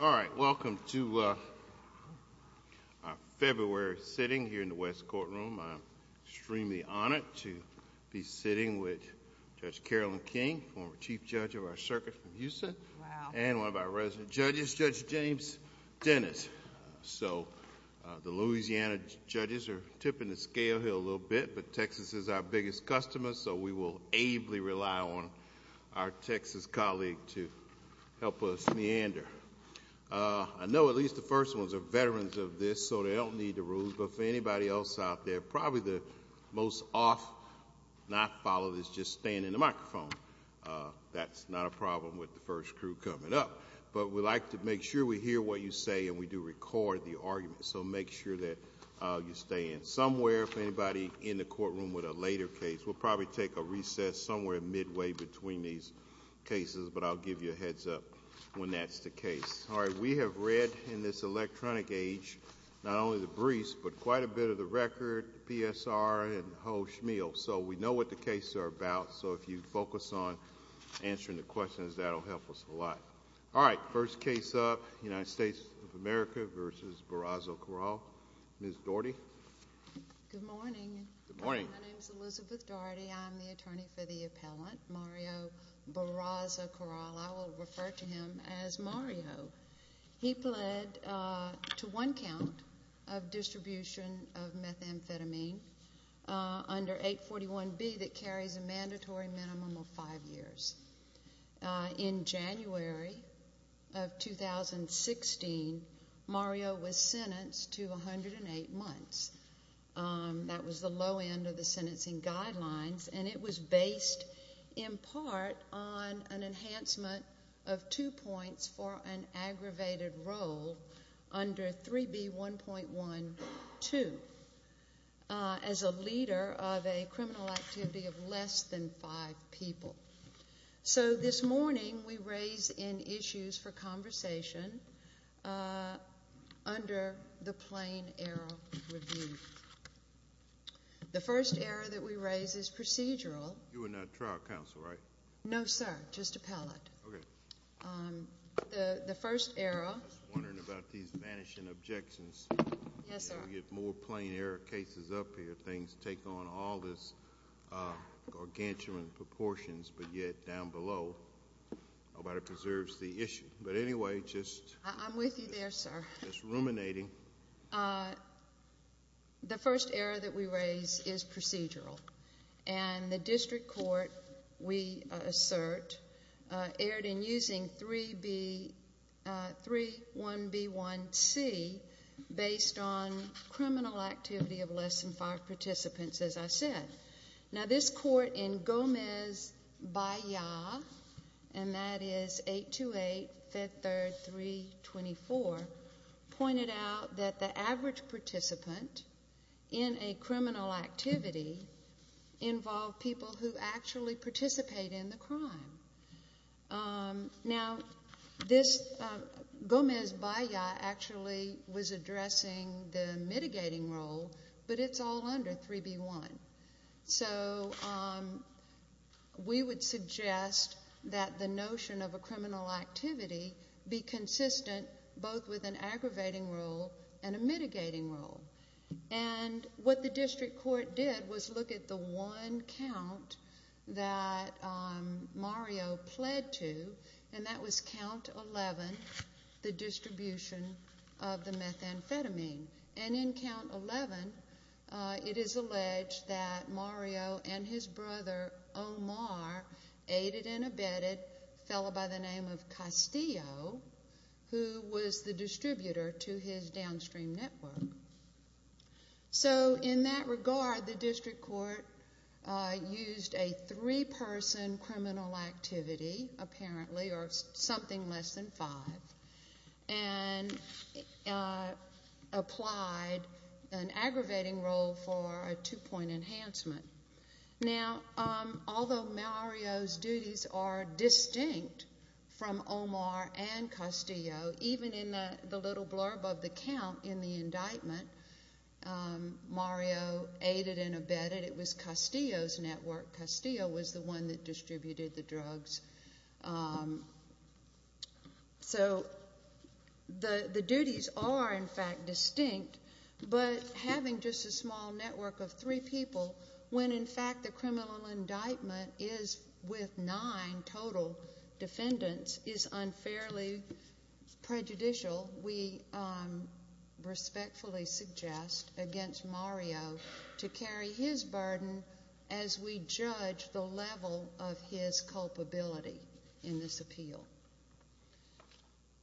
All right, welcome to our February sitting here in the West Courtroom. I'm extremely honored to be sitting with Judge Carolyn King, former chief judge of our circuit from Houston, and one of our resident judges, Judge James Dennis. So the Louisiana judges are tipping the scale here a little bit, but Texas is our biggest customer, so we will ably rely on our Texas colleague to help us meander. I know at least the first ones are veterans of this, so they don't need the rules, but for anybody else out there, probably the most off not followed is just staying in the microphone. That's not a problem with the first crew coming up, but we like to make sure we hear what you say and we do record the argument, so make sure that you stay in. Somewhere, if anybody in the courtroom with a later case, we'll probably take a recess somewhere midway between these cases, but I'll give you a heads up when that's the case. All right, we have read in this electronic age not only the briefs, but quite a bit of the record, PSR, and ho schmeal, so we know what the cases are about, so if you focus on answering the questions, that will help us a lot. All right, first case up, United States of America v. Barazza-Corral. Ms. Daugherty? Good morning. My name is Elizabeth Daugherty. I'm the attorney for the appellant, Mario Barazza-Corral. I will refer to him as Mario. He pled to one count of distribution of methamphetamine under 841B that carries a mandatory minimum of five years. In January of 2016, Mario was sentenced to 108 months. That was the low end of the sentencing guidelines, and it was based in part on an enhancement of two points for an aggravated role under 3B1.12 as a leader of a criminal activity of less than five people. So this morning, we raise in issues for conversation under the plain error review. The first error that we raise is procedural. You are not trial counsel, right? No, sir, just appellate. Okay. The first error... I was wondering about these vanishing objections. Yes, sir. We get more plain error cases up here. Things take on all this gargantuan proportions, but nobody preserves the issue. But anyway, just... I'm with you there, sir.... just ruminating. The first error that we raise is procedural, and the district court, we assert, erred in using 3.1.B.1.C based on criminal activity of less than five participants, as I said. Now, this court in Gomez-Baillat, and that is 828, Fifth Third, 324, pointed out that the average participant in a criminal activity involved people who actually participate in the crime. Now, Gomez-Baillat actually was addressing the mitigating role, but it's all under 3.B.1. So we would suggest that the notion of a criminal activity be consistent both with an aggravating role and a mitigating role. And what the district court did was look at the one count that Mario pled to, and that was count 11, the distribution of the methamphetamine. And in count 11, it is alleged that Mario and his brother, Omar, aided and abetted a fellow by the name of Castillo, who was the distributor to his downstream network. So in that regard, the district court used a three-person criminal activity, apparently, or something less than five, and applied an aggravating role for a two-point enhancement. Now, although Mario's duties are distinct from Omar and Castillo, even in the little blurb of the count in the indictment, Mario aided and abetted. It was Castillo's network. Castillo was the one that distributed the drugs. So the duties are, in fact, distinct, but having just a small network of three people when, in fact, the criminal indictment is with nine total defendants is unfairly prejudicial. We respectfully suggest against Mario to carry his burden as we judge the level of his culpability in this appeal.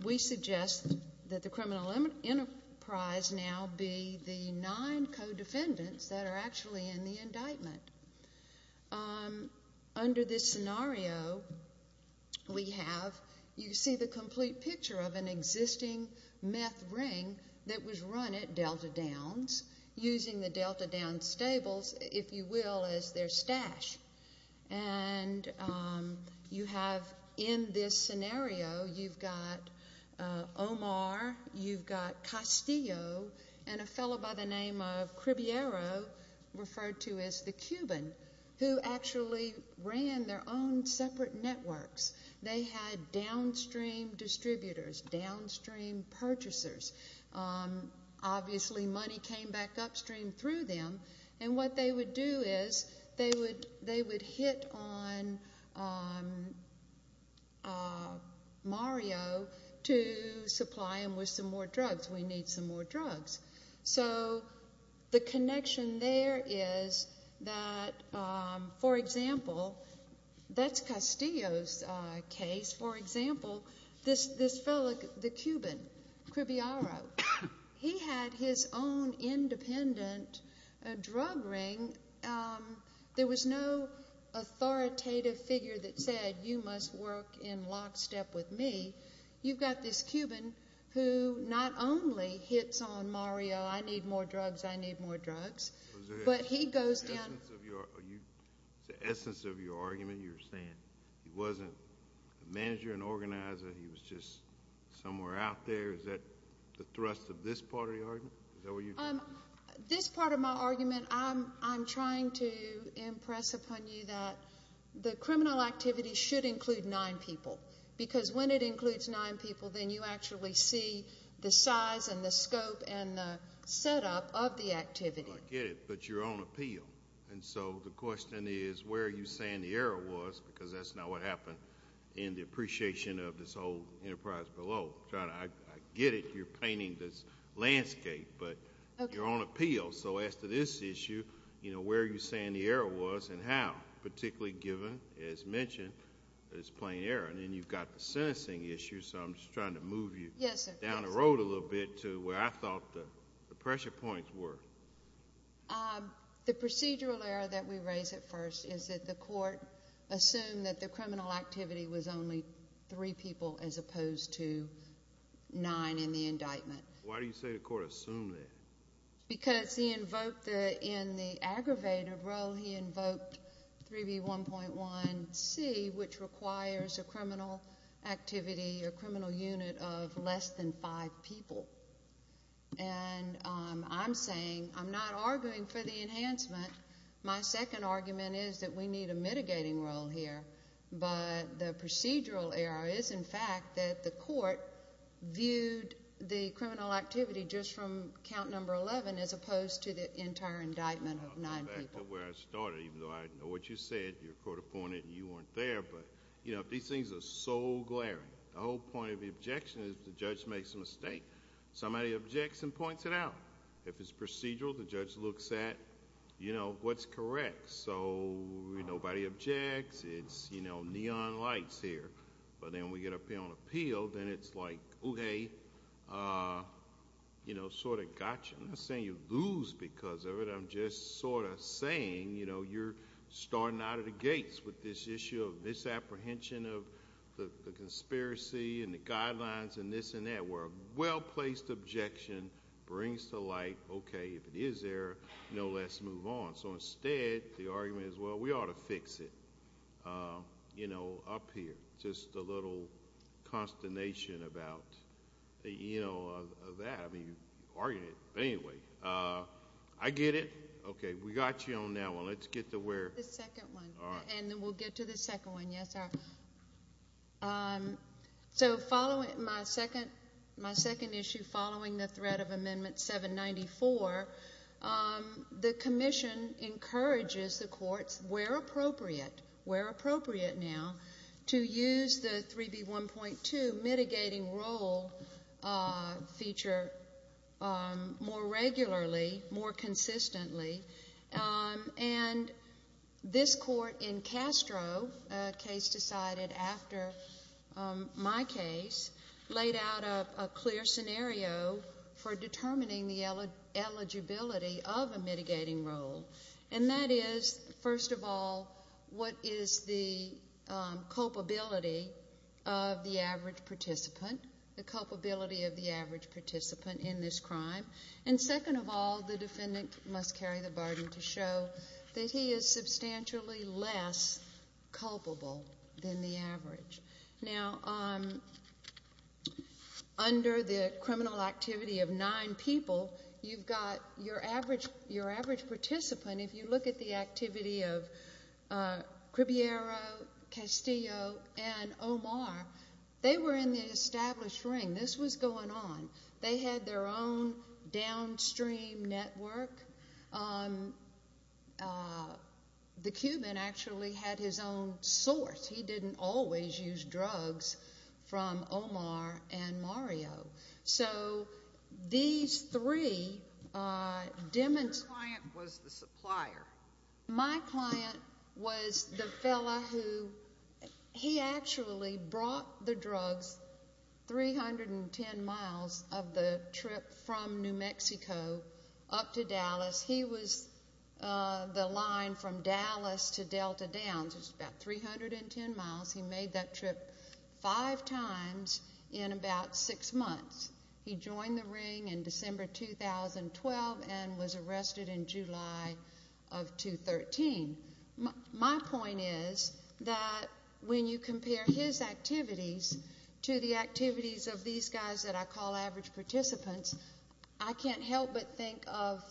We suggest that the criminal enterprise now be the nine co-defendants that are actually in the indictment. Under this scenario we have, you see the complete picture of an existing meth ring that was run at Delta Downs using the Delta Downs stables, if you will, as their stash. And you have in this scenario, you've got Omar, you've got Castillo, and a fellow by the name of Cribiero, referred to as the Cuban, who actually ran their own separate networks. They had downstream distributors, downstream purchasers. Obviously money came back upstream through them, and what they would do is they would hit on Mario to supply him with some more drugs. We need some more drugs. So the connection there is that, for example, that's Castillo's case. For example, this fellow, the Cuban, Cribiero, he had his own independent drug ring. There was no authoritative figure that said, you must work in lockstep with me. You've got this Cuban who not only hits on Mario, I need more drugs, I need more drugs, but he goes down. The essence of your argument, you're saying he wasn't a manager, an organizer, he was just somewhere out there. Is that the thrust of this part of the argument? This part of my argument, I'm trying to impress upon you that the criminal activity should include nine people, because when it includes nine people, then you actually see the size and the scope and the setup of the activity. I get it, but you're on appeal. So the question is where are you saying the error was, because that's not what happened in the appreciation of this whole enterprise below. I get it, you're painting this landscape, but you're on appeal. So as to this issue, where are you saying the error was and how, particularly given, as mentioned, that it's plain error? And then you've got the sentencing issue, so I'm just trying to move you down the road a little bit to where I thought the pressure points were. The procedural error that we raise at first is that the court assumed that the criminal activity was only three people as opposed to nine in the indictment. Why do you say the court assumed that? Because in the aggravated role, he invoked 3B1.1C, which requires a criminal activity, a criminal unit of less than five people. And I'm saying, I'm not arguing for the enhancement. My second argument is that we need a mitigating role here, but the procedural error is, in fact, that the court viewed the criminal activity just from count number 11 as opposed to the entire indictment of nine people. I'll go back to where I started, even though I know what you said. You're a court-appointed and you weren't there, but these things are so glaring. The whole point of the objection is the judge makes a mistake. Somebody objects and points it out. If it's procedural, the judge looks at what's correct. Nobody objects. It's neon lights here. But then when we get up here on appeal, then it's like, okay, sort of gotcha. I'm not saying you lose because of it. I'm just sort of saying you're starting out of the gates with this issue of this apprehension of the conspiracy and the guidelines and this and that, where a well-placed objection brings to light, okay, if it is there, let's move on. So instead, the argument is, well, we ought to fix it up here. Just a little consternation about that. I mean, you argued it. But anyway, I get it. Okay, we got you on that one. Let's get to where— The second one, and then we'll get to the second one. Yes, sir. So following my second issue, following the threat of Amendment 794, the Commission encourages the courts, where appropriate, where appropriate now, to use the 3B1.2 mitigating role feature more regularly, more consistently. And this court in Castro, a case decided after my case, laid out a clear scenario for determining the eligibility of a mitigating role. And that is, first of all, what is the culpability of the average participant, the culpability of the average participant in this crime. And second of all, the defendant must carry the burden to show that he is substantially less culpable than the average. Now, under the criminal activity of nine people, you've got your average participant, if you look at the activity of Cribiero, Castillo, and Omar, they were in the established ring. This was going on. They had their own downstream network. The Cuban actually had his own source. He didn't always use drugs from Omar and Mario. So these three demonstrated— Your client was the supplier. My client was the fellow who—he actually brought the drugs 310 miles of the trip from New Mexico up to Dallas. He was the line from Dallas to Delta Downs, which is about 310 miles. He made that trip five times in about six months. He joined the ring in December 2012 and was arrested in July of 2013. My point is that when you compare his activities to the activities of these guys that I call average participants, I can't help but think of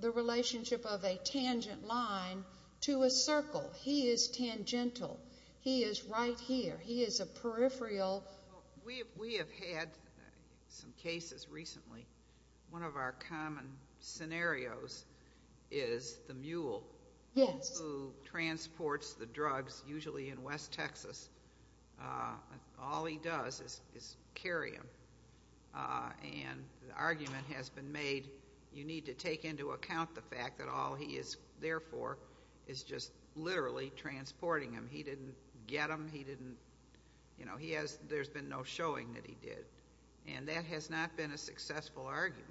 the relationship of a tangent line to a circle. He is tangential. He is right here. He is a peripheral— We have had some cases recently. One of our common scenarios is the mule who transports the drugs, usually in West Texas. All he does is carry them, and the argument has been made, you need to take into account the fact that all he is there for is just literally transporting them. He didn't get them. He didn't—you know, he has—there's been no showing that he did, and that has not been a successful argument.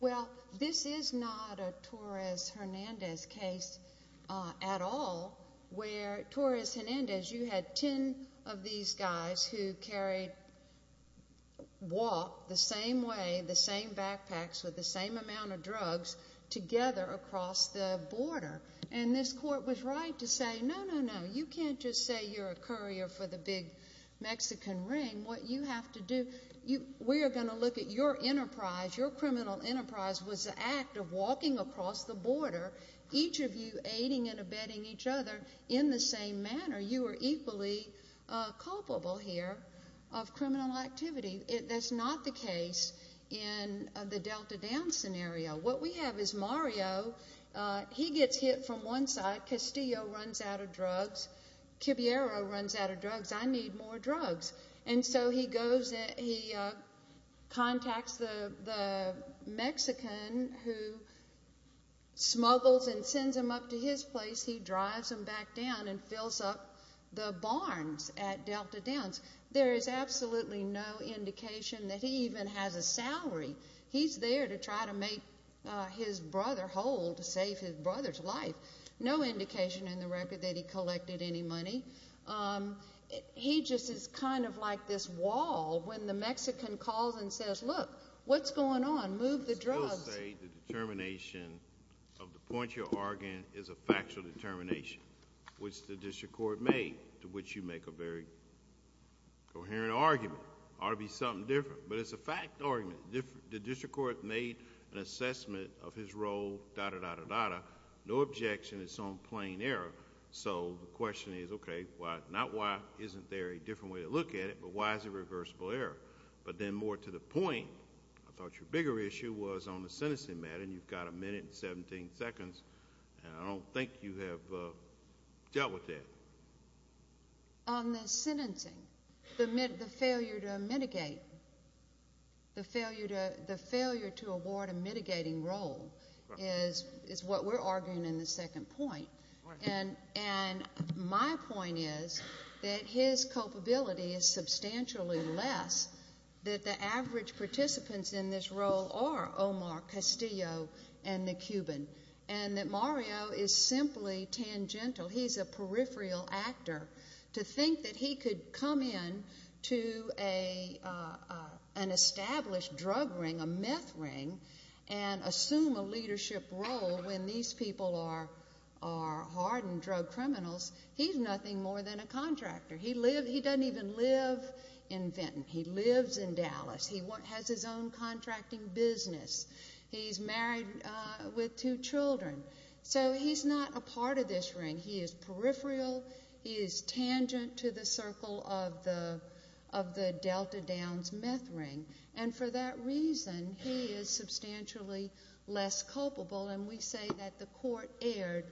Well, this is not a Torres Hernandez case at all where—Torres Hernandez, you had 10 of these guys who carried—walked the same way, the same backpacks, with the same amount of drugs together across the border, and this court was right to say, no, no, no, you can't just say you're a courier for the big Mexican ring. What you have to do—we are going to look at your enterprise. Your criminal enterprise was the act of walking across the border, each of you aiding and abetting each other in the same manner. You are equally culpable here of criminal activity. That's not the case in the Delta Downs scenario. What we have is Mario. He gets hit from one side. Castillo runs out of drugs. Quibiero runs out of drugs. I need more drugs. And so he goes—he contacts the Mexican who smuggles and sends him up to his place. He drives him back down and fills up the barns at Delta Downs. There is absolutely no indication that he even has a salary. He's there to try to make his brother whole to save his brother's life. No indication in the record that he collected any money. He just is kind of like this wall when the Mexican calls and says, look, what's going on? Move the drugs. You still say the determination of the point you're arguing is a factual determination, which the district court made, to which you make a very coherent argument. It ought to be something different. But it's a fact argument. The district court made an assessment of his role, da-da-da-da-da. No objection. It's some plain error. So the question is, okay, not why isn't there a different way to look at it, but why is it reversible error? But then more to the point, I thought your bigger issue was on the sentencing matter, and you've got a minute and 17 seconds, and I don't think you have dealt with that. On the sentencing, the failure to mitigate, the failure to award a mitigating role is what we're arguing in the second point. And my point is that his culpability is substantially less, that the average participants in this role are Omar Castillo and the Cuban, and that Mario is simply tangential. He's a peripheral actor. To think that he could come in to an established drug ring, a meth ring, and assume a leadership role when these people are hardened drug criminals, he's nothing more than a contractor. He doesn't even live in Fenton. He lives in Dallas. He has his own contracting business. He's married with two children. So he's not a part of this ring. He is peripheral. He is tangent to the circle of the Delta Downs meth ring. And for that reason, he is substantially less culpable, and we say that the court erred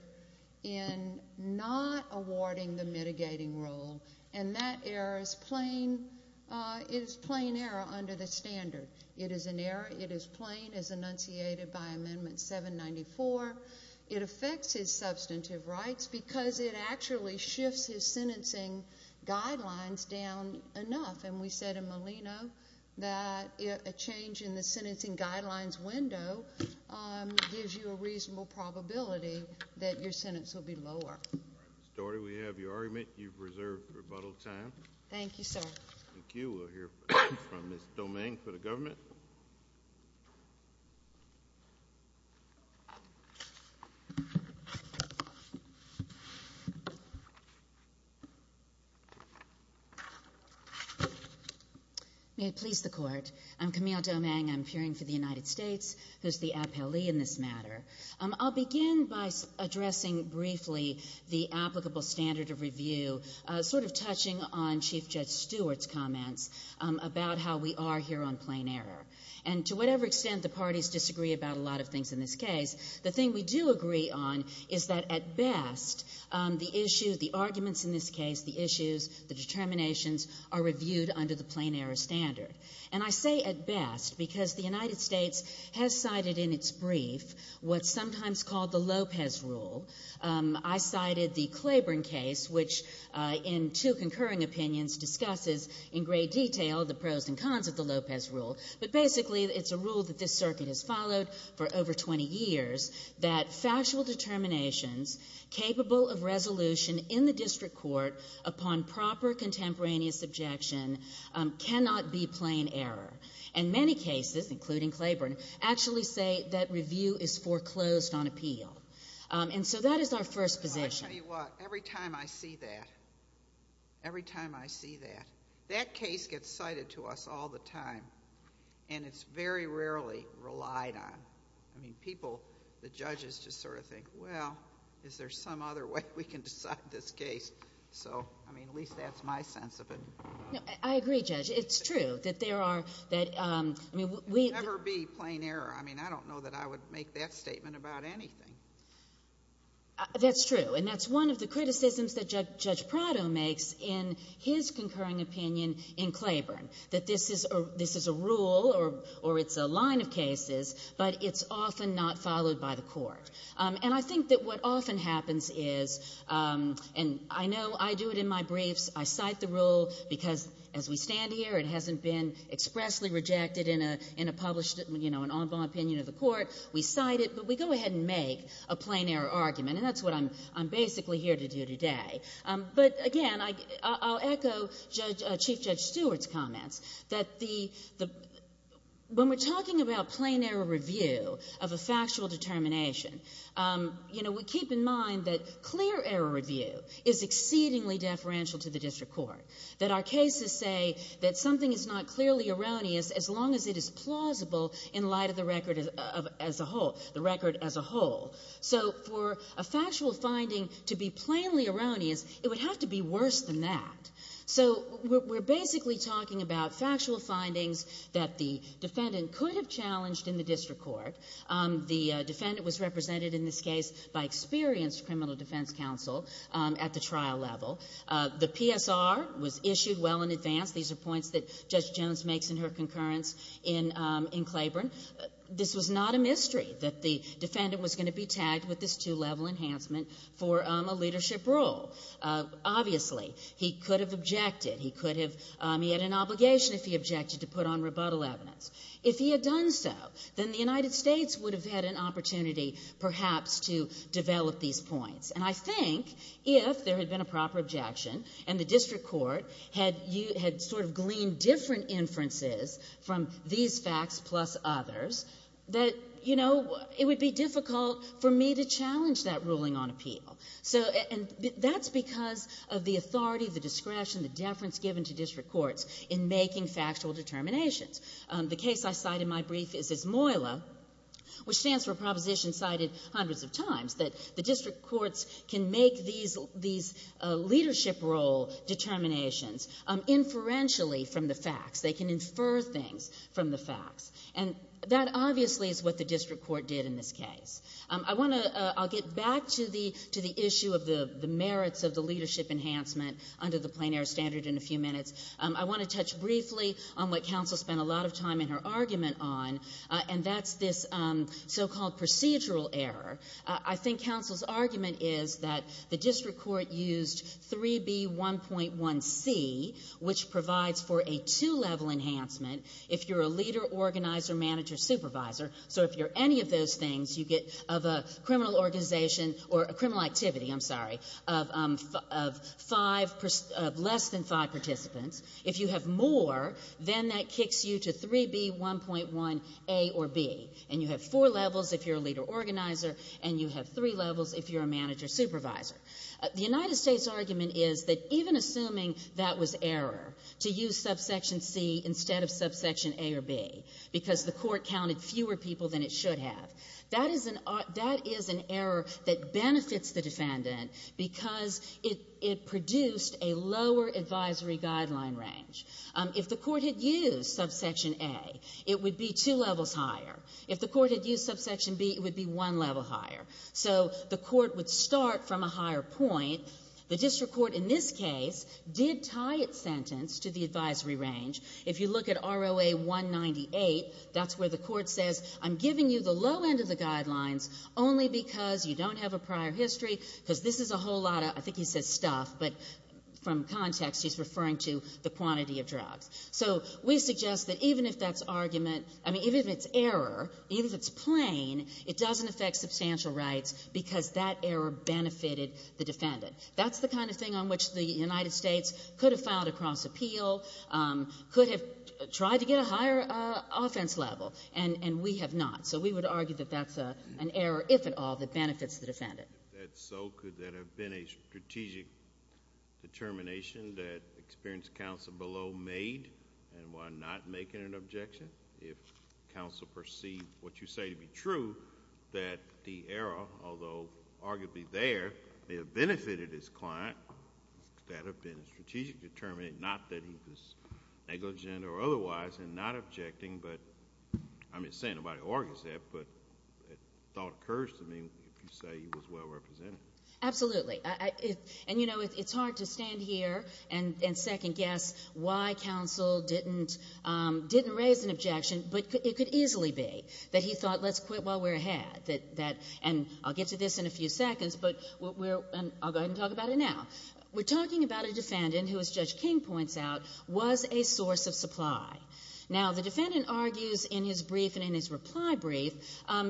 in not awarding the mitigating role, and that error is plain error under the standard. It is an error. It is plain, as enunciated by Amendment 794. It affects his substantive rights because it actually shifts his sentencing guidelines down enough. And we said in Molino that a change in the sentencing guidelines window gives you a reasonable probability that your sentence will be lower. Ms. Dougherty, we have your argument. You've reserved rebuttal time. Thank you, sir. Thank you. We'll hear from Ms. Doming for the government. May it please the Court. I'm Camille Doming. I'm peering for the United States, who's the appellee in this matter. on Chief Judge Stewart's comments about how we are here on plain error. And to whatever extent the parties disagree about a lot of things in this case, the thing we do agree on is that, at best, the issue, the arguments in this case, the issues, the determinations are reviewed under the plain error standard. And I say at best because the United States has cited in its brief what's sometimes called the Lopez Rule. I cited the Claiborne case, which, in two concurring opinions, discusses in great detail the pros and cons of the Lopez Rule. But basically it's a rule that this circuit has followed for over 20 years that factual determinations capable of resolution in the district court upon proper contemporaneous objection cannot be plain error. And many cases, including Claiborne, actually say that review is foreclosed on appeal. And so that is our first position. Let me tell you what. Every time I see that, every time I see that, that case gets cited to us all the time, and it's very rarely relied on. I mean, people, the judges just sort of think, well, is there some other way we can decide this case? So, I mean, at least that's my sense of it. No, I agree, Judge. It's true that there are, that, I mean, we — It would never be plain error. I mean, I don't know that I would make that statement about anything. That's true. And that's one of the criticisms that Judge Prado makes in his concurring opinion in Claiborne, that this is a rule or it's a line of cases, but it's often not followed by the court. And I think that what often happens is, and I know I do it in my briefs, I cite the rule because, as we stand here, it hasn't been expressly rejected in a published, you know, an en bas opinion of the court. We cite it, but we go ahead and make a plain error argument, and that's what I'm basically here to do today. But, again, I'll echo Chief Judge Stewart's comments, that when we're talking about plain error review of a factual determination, you know, we keep in mind that clear error review is exceedingly deferential to the district court, that our cases say that something is not clearly erroneous as long as it is plausible in light of the record as a whole, the record as a whole. So for a factual finding to be plainly erroneous, it would have to be worse than that. So we're basically talking about factual findings that the defendant could have challenged in the district court. The defendant was represented in this case by experienced criminal defense counsel at the trial level. The PSR was issued well in advance. These are points that Judge Jones makes in her concurrence in Claiborne. This was not a mystery that the defendant was going to be tagged with this two-level enhancement for a leadership role. Obviously, he could have objected. He could have — he had an obligation, if he objected, to put on rebuttal evidence. If he had done so, then the United States would have had an opportunity perhaps to develop these points. And I think if there had been a proper objection and the district court had sort of gleaned different inferences from these facts plus others, that, you know, it would be difficult for me to challenge that ruling on appeal. And that's because of the authority, the discretion, the deference given to district courts in making factual determinations. The case I cite in my brief is IZMOILA, which stands for Proposition Cited Hundreds of Times, that the district courts can make these leadership role determinations inferentially from the facts. They can infer things from the facts. And that obviously is what the district court did in this case. I want to — I'll get back to the issue of the merits of the leadership enhancement under the plein air standard in a few minutes. I want to touch briefly on what counsel spent a lot of time in her argument on, and that's this so-called procedural error. I think counsel's argument is that the district court used 3B1.1c, which provides for a two-level enhancement if you're a leader, organizer, manager, supervisor. So if you're any of those things, you get — of a criminal organization or a criminal activity, I'm sorry, of five — of less than five participants. If you have more, then that kicks you to 3B1.1a or b. And you have four levels if you're a leader, organizer, and you have three levels if you're a manager, supervisor. The United States' argument is that even assuming that was error, to use subsection c instead of subsection a or b, because the court counted fewer people than it should have, that is an error that benefits the defendant because it produced a lower advisory guideline range. If the court had used subsection a, it would be two levels higher. If the court had used subsection b, it would be one level higher. So the court would start from a higher point. The district court in this case did tie its sentence to the advisory range. If you look at ROA 198, that's where the court says, I'm giving you the low end of the guidelines only because you don't have a prior history, because this is a whole lot of — I think he says stuff, but from context he's referring to the quantity of drugs. So we suggest that even if that's argument — I mean, even if it's error, even if it's plain, it doesn't affect substantial rights because that error benefited the defendant. That's the kind of thing on which the United States could have filed a cross appeal, could have tried to get a higher offense level, and we have not. So we would argue that that's an error, if at all, that benefits the defendant. If that's so, could that have been a strategic determination that experienced counsel below made? And why not make it an objection if counsel perceived what you say to be true, that the error, although arguably there, may have benefited his client, could that have been a strategic determination, not that he was negligent or otherwise, and not objecting, but — I'm not saying nobody argues that, but thought occurs to me if you say he was well represented. Absolutely. And, you know, it's hard to stand here and second guess why counsel didn't raise an objection, but it could easily be that he thought, let's quit while we're ahead. And I'll get to this in a few seconds, but we're — and I'll go ahead and talk about it now. We're talking about a defendant who, as Judge King points out, was a source of supply. Now, the defendant argues in his brief and in his reply brief,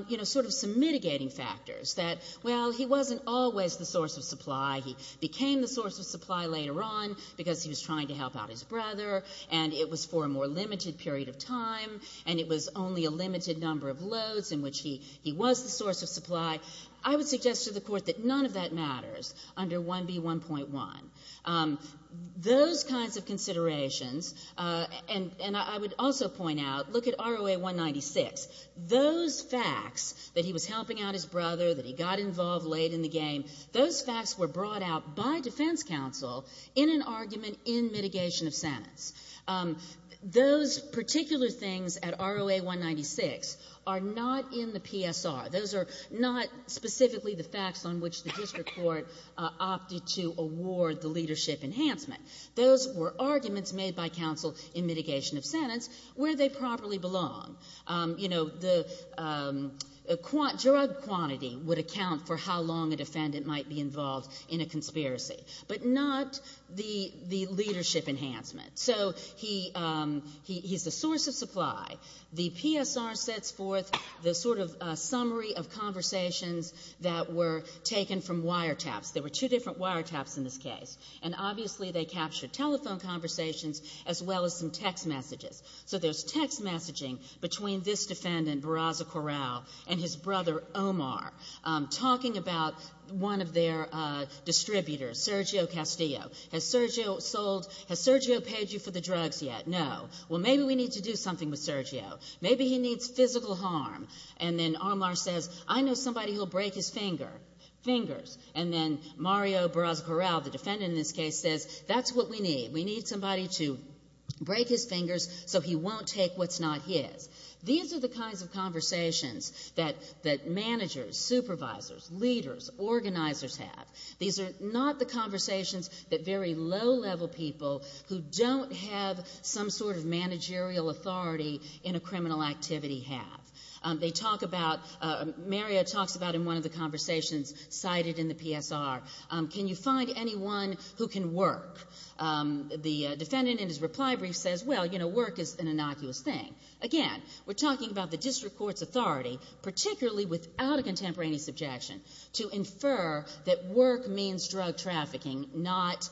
you know, sort of some mitigating factors, that, well, he wasn't always the source of supply. He became the source of supply later on because he was trying to help out his brother, and it was for a more limited period of time, and it was only a limited number of loads in which he was the source of supply. I would suggest to the Court that none of that matters under 1B1.1. Those kinds of considerations — and I would also point out, look at ROA 196. Those facts, that he was helping out his brother, that he got involved late in the game, those facts were brought out by defense counsel in an argument in mitigation of sentence. Those particular things at ROA 196 are not in the PSR. Those are not specifically the facts on which the district court opted to award the leadership enhancement. Those were arguments made by counsel in mitigation of sentence where they properly belong. You know, the drug quantity would account for how long a defendant might be involved in a conspiracy, but not the leadership enhancement. So he's the source of supply. The PSR sets forth the sort of summary of conversations that were taken from wiretaps. There were two different wiretaps in this case, and obviously they captured telephone conversations as well as some text messages. So there's text messaging between this defendant, Barraza-Corral, and his brother, Omar, talking about one of their distributors, Sergio Castillo. Has Sergio paid you for the drugs yet? No. Well, maybe we need to do something with Sergio. Maybe he needs physical harm. And then Omar says, I know somebody who will break his fingers. And then Mario Barraza-Corral, the defendant in this case, says, that's what we need. We need somebody to break his fingers so he won't take what's not his. These are the kinds of conversations that managers, supervisors, leaders, organizers have. These are not the conversations that very low-level people who don't have some sort of managerial authority in a criminal activity have. They talk about, Mario talks about in one of the conversations cited in the PSR, can you find anyone who can work? The defendant in his reply brief says, well, you know, work is an innocuous thing. Again, we're talking about the district court's authority, particularly without a contemporaneous objection, to infer that work means drug trafficking, not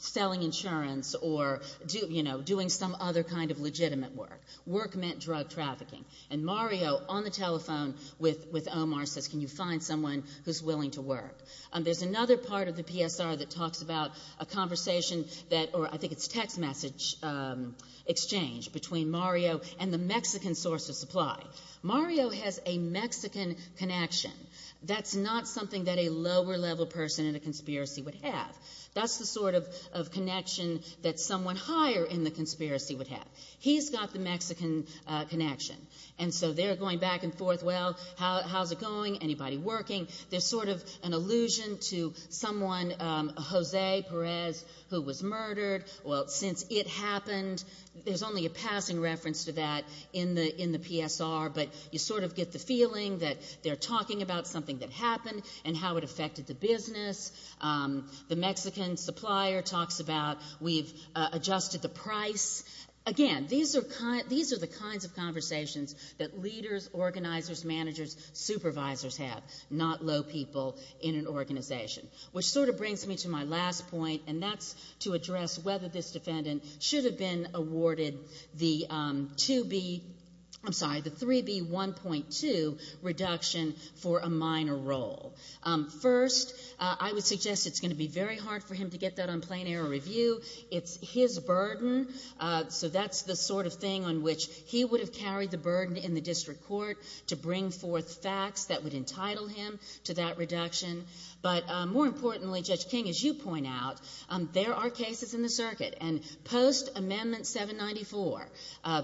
selling insurance or, you know, doing some other kind of legitimate work. Work meant drug trafficking. And Mario, on the telephone with Omar, says, can you find someone who's willing to work? There's another part of the PSR that talks about a conversation that, or I think it's text message exchange, between Mario and the Mexican source of supply. Mario has a Mexican connection. That's not something that a lower-level person in a conspiracy would have. That's the sort of connection that someone higher in the conspiracy would have. He's got the Mexican connection. And so they're going back and forth, well, how's it going? Anybody working? There's sort of an allusion to someone, Jose Perez, who was murdered. Well, since it happened, there's only a passing reference to that in the PSR, but you sort of get the feeling that they're talking about something that happened and how it affected the business. The Mexican supplier talks about we've adjusted the price. Again, these are the kinds of conversations that leaders, organizers, managers, supervisors have, not low people in an organization, which sort of brings me to my last point, and that's to address whether this defendant should have been awarded the 2B, I'm sorry, the 3B1.2 reduction for a minor role. First, I would suggest it's going to be very hard for him to get that on plain-error review. It's his burden, so that's the sort of thing on which he would have carried the burden in the district court to bring forth facts that would entitle him to that reduction. But more importantly, Judge King, as you point out, there are cases in the circuit, and post-Amendment 794,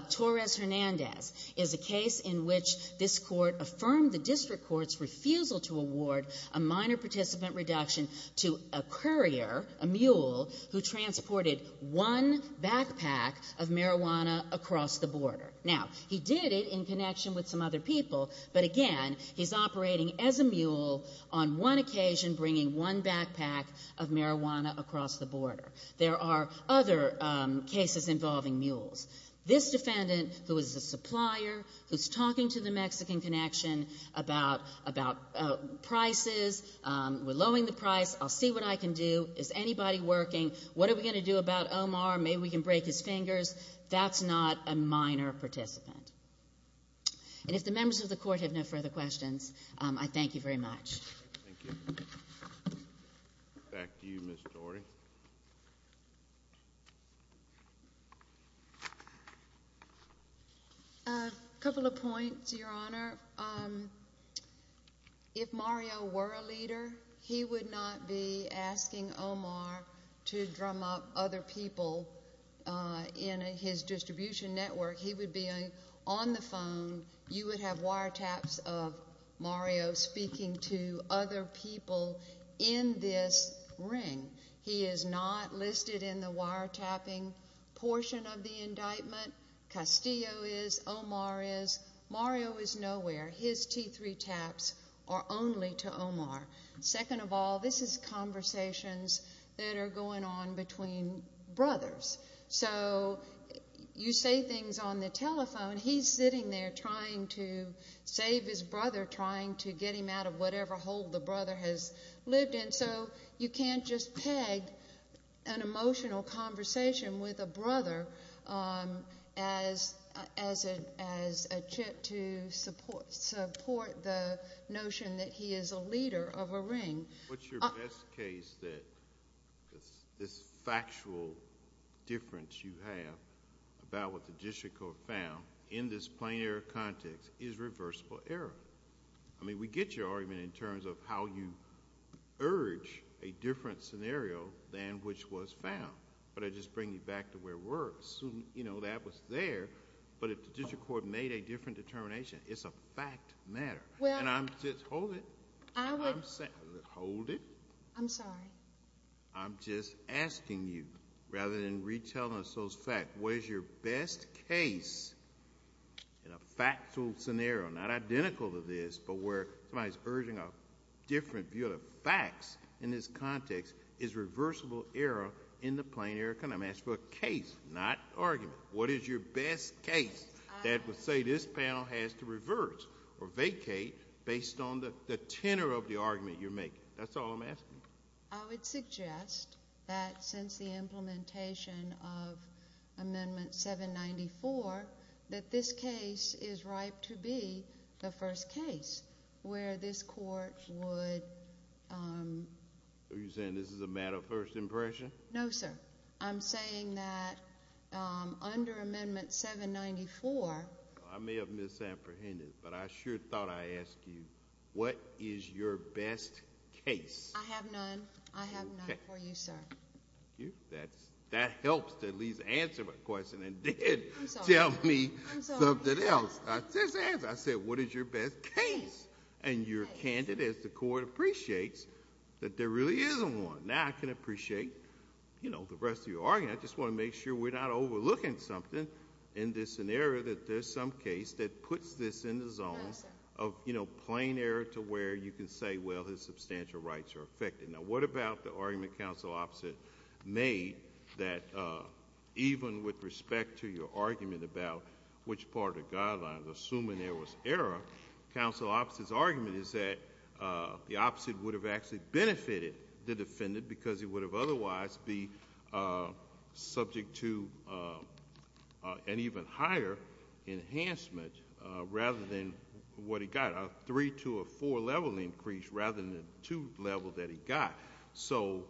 Torres-Hernandez is a case in which this court affirmed the district court's refusal to award a minor participant reduction to a courier, a mule, who transported one backpack of marijuana across the border. Now, he did it in connection with some other people, but again, he's operating as a mule on one occasion, bringing one backpack of marijuana across the border. There are other cases involving mules. This defendant, who is a supplier, who's talking to the Mexican Connection about prices, we're lowering the price, I'll see what I can do, is anybody working, what are we going to do about Omar, maybe we can break his fingers, that's not a minor participant. And if the members of the Court have no further questions, I thank you very much. Thank you. Back to you, Ms. Torrey. A couple of points, Your Honor. If Mario were a leader, he would not be asking Omar to drum up other people in his distribution network. He would be on the phone, you would have wiretaps of Mario speaking to other people in this ring. He is not listed in the wiretapping portion of the indictment. Castillo is, Omar is, Mario is nowhere. His T3 taps are only to Omar. Second of all, this is conversations that are going on between brothers. So you say things on the telephone, he's sitting there trying to save his brother, trying to get him out of whatever hole the brother has lived in. So you can't just peg an emotional conversation with a brother as a chip to support the notion that he is a leader of a ring. What's your best case that this factual difference you have about what the district court found in this plain error context is reversible error? I mean, we get your argument in terms of how you urge a different scenario than which was found. But I just bring you back to where we're assuming that was there. But if the district court made a different determination, it's a fact matter. And I'm just, hold it. Hold it. I'm sorry. I'm just asking you, rather than retelling us those facts, what is your best case in a factual scenario, not identical to this but where somebody is urging a different view of the facts in this context, is reversible error in the plain error context? I'm asking for a case, not argument. What is your best case that would say this panel has to reverse or vacate based on the tenor of the argument you're making? That's all I'm asking. I would suggest that since the implementation of Amendment 794, that this case is ripe to be the first case where this court would— Are you saying this is a matter of first impression? No, sir. I'm saying that under Amendment 794— I may have misapprehended, but I sure thought I asked you, what is your best case? I have none. I have none for you, sir. Thank you. That helps to at least answer my question and then tell me something else. I just asked. I said, what is your best case? And you're candid as the court appreciates that there really isn't one. Now I can appreciate the rest of your argument. I just want to make sure we're not overlooking something in this scenario that there's some case that puts this in the zone of plain error to where you can say, well, his substantial rights are affected. Now what about the argument Counsel Opposite made that even with respect to your argument about which part of the guidelines, assuming there was error, Counsel Opposite's argument is that the opposite would have actually benefited the defendant because he would have otherwise be subject to an even higher enhancement rather than what he got, a three- to a four-level increase rather than the two-level that he got. So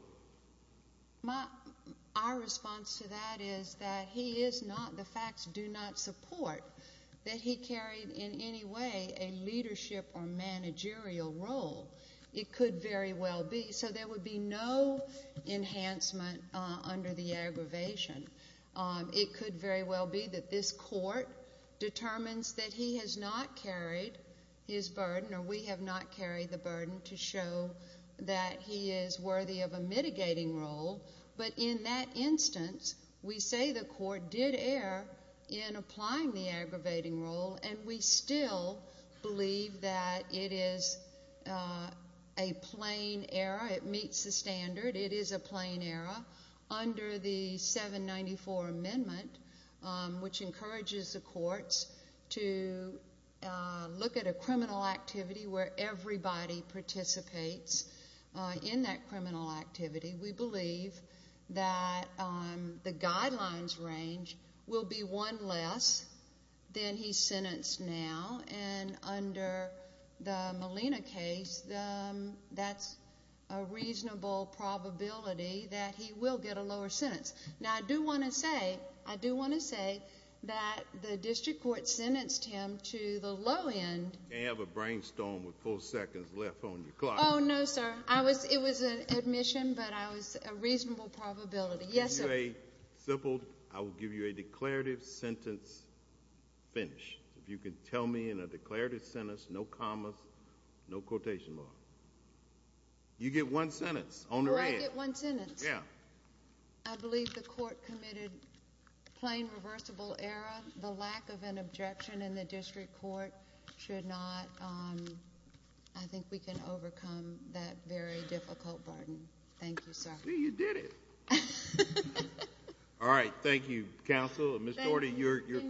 our response to that is that he is not—the facts do not support that he carried in any way a leadership or managerial role. It could very well be. So there would be no enhancement under the aggravation. It could very well be that this court determines that he has not carried his burden or we have not carried the burden to show that he is worthy of a mitigating role. But in that instance, we say the court did err in applying the aggravating role, and we still believe that it is a plain error. It meets the standard. It is a plain error. Under the 794 Amendment, which encourages the courts to look at a criminal activity where everybody participates in that criminal activity, we believe that the guidelines range will be one less than he's sentenced now. And under the Molina case, that's a reasonable probability that he will get a lower sentence. Now, I do want to say—I do want to say that the district court sentenced him to the low end. May I have a brainstorm with four seconds left on your clock? Oh, no, sir. It was an admission, but I was—a reasonable probability. Yes, sir. I'll give you a simple—I will give you a declarative sentence finish. If you can tell me in a declarative sentence, no commas, no quotation marks. You get one sentence. On the red. Oh, I get one sentence? Yes. I believe the court committed plain reversible error. The lack of an objection in the district court should not—I think we can overcome that very difficult burden. Thank you, sir. See, you did it. Thank you, counsel. Ms. Doherty, your question? Thank you.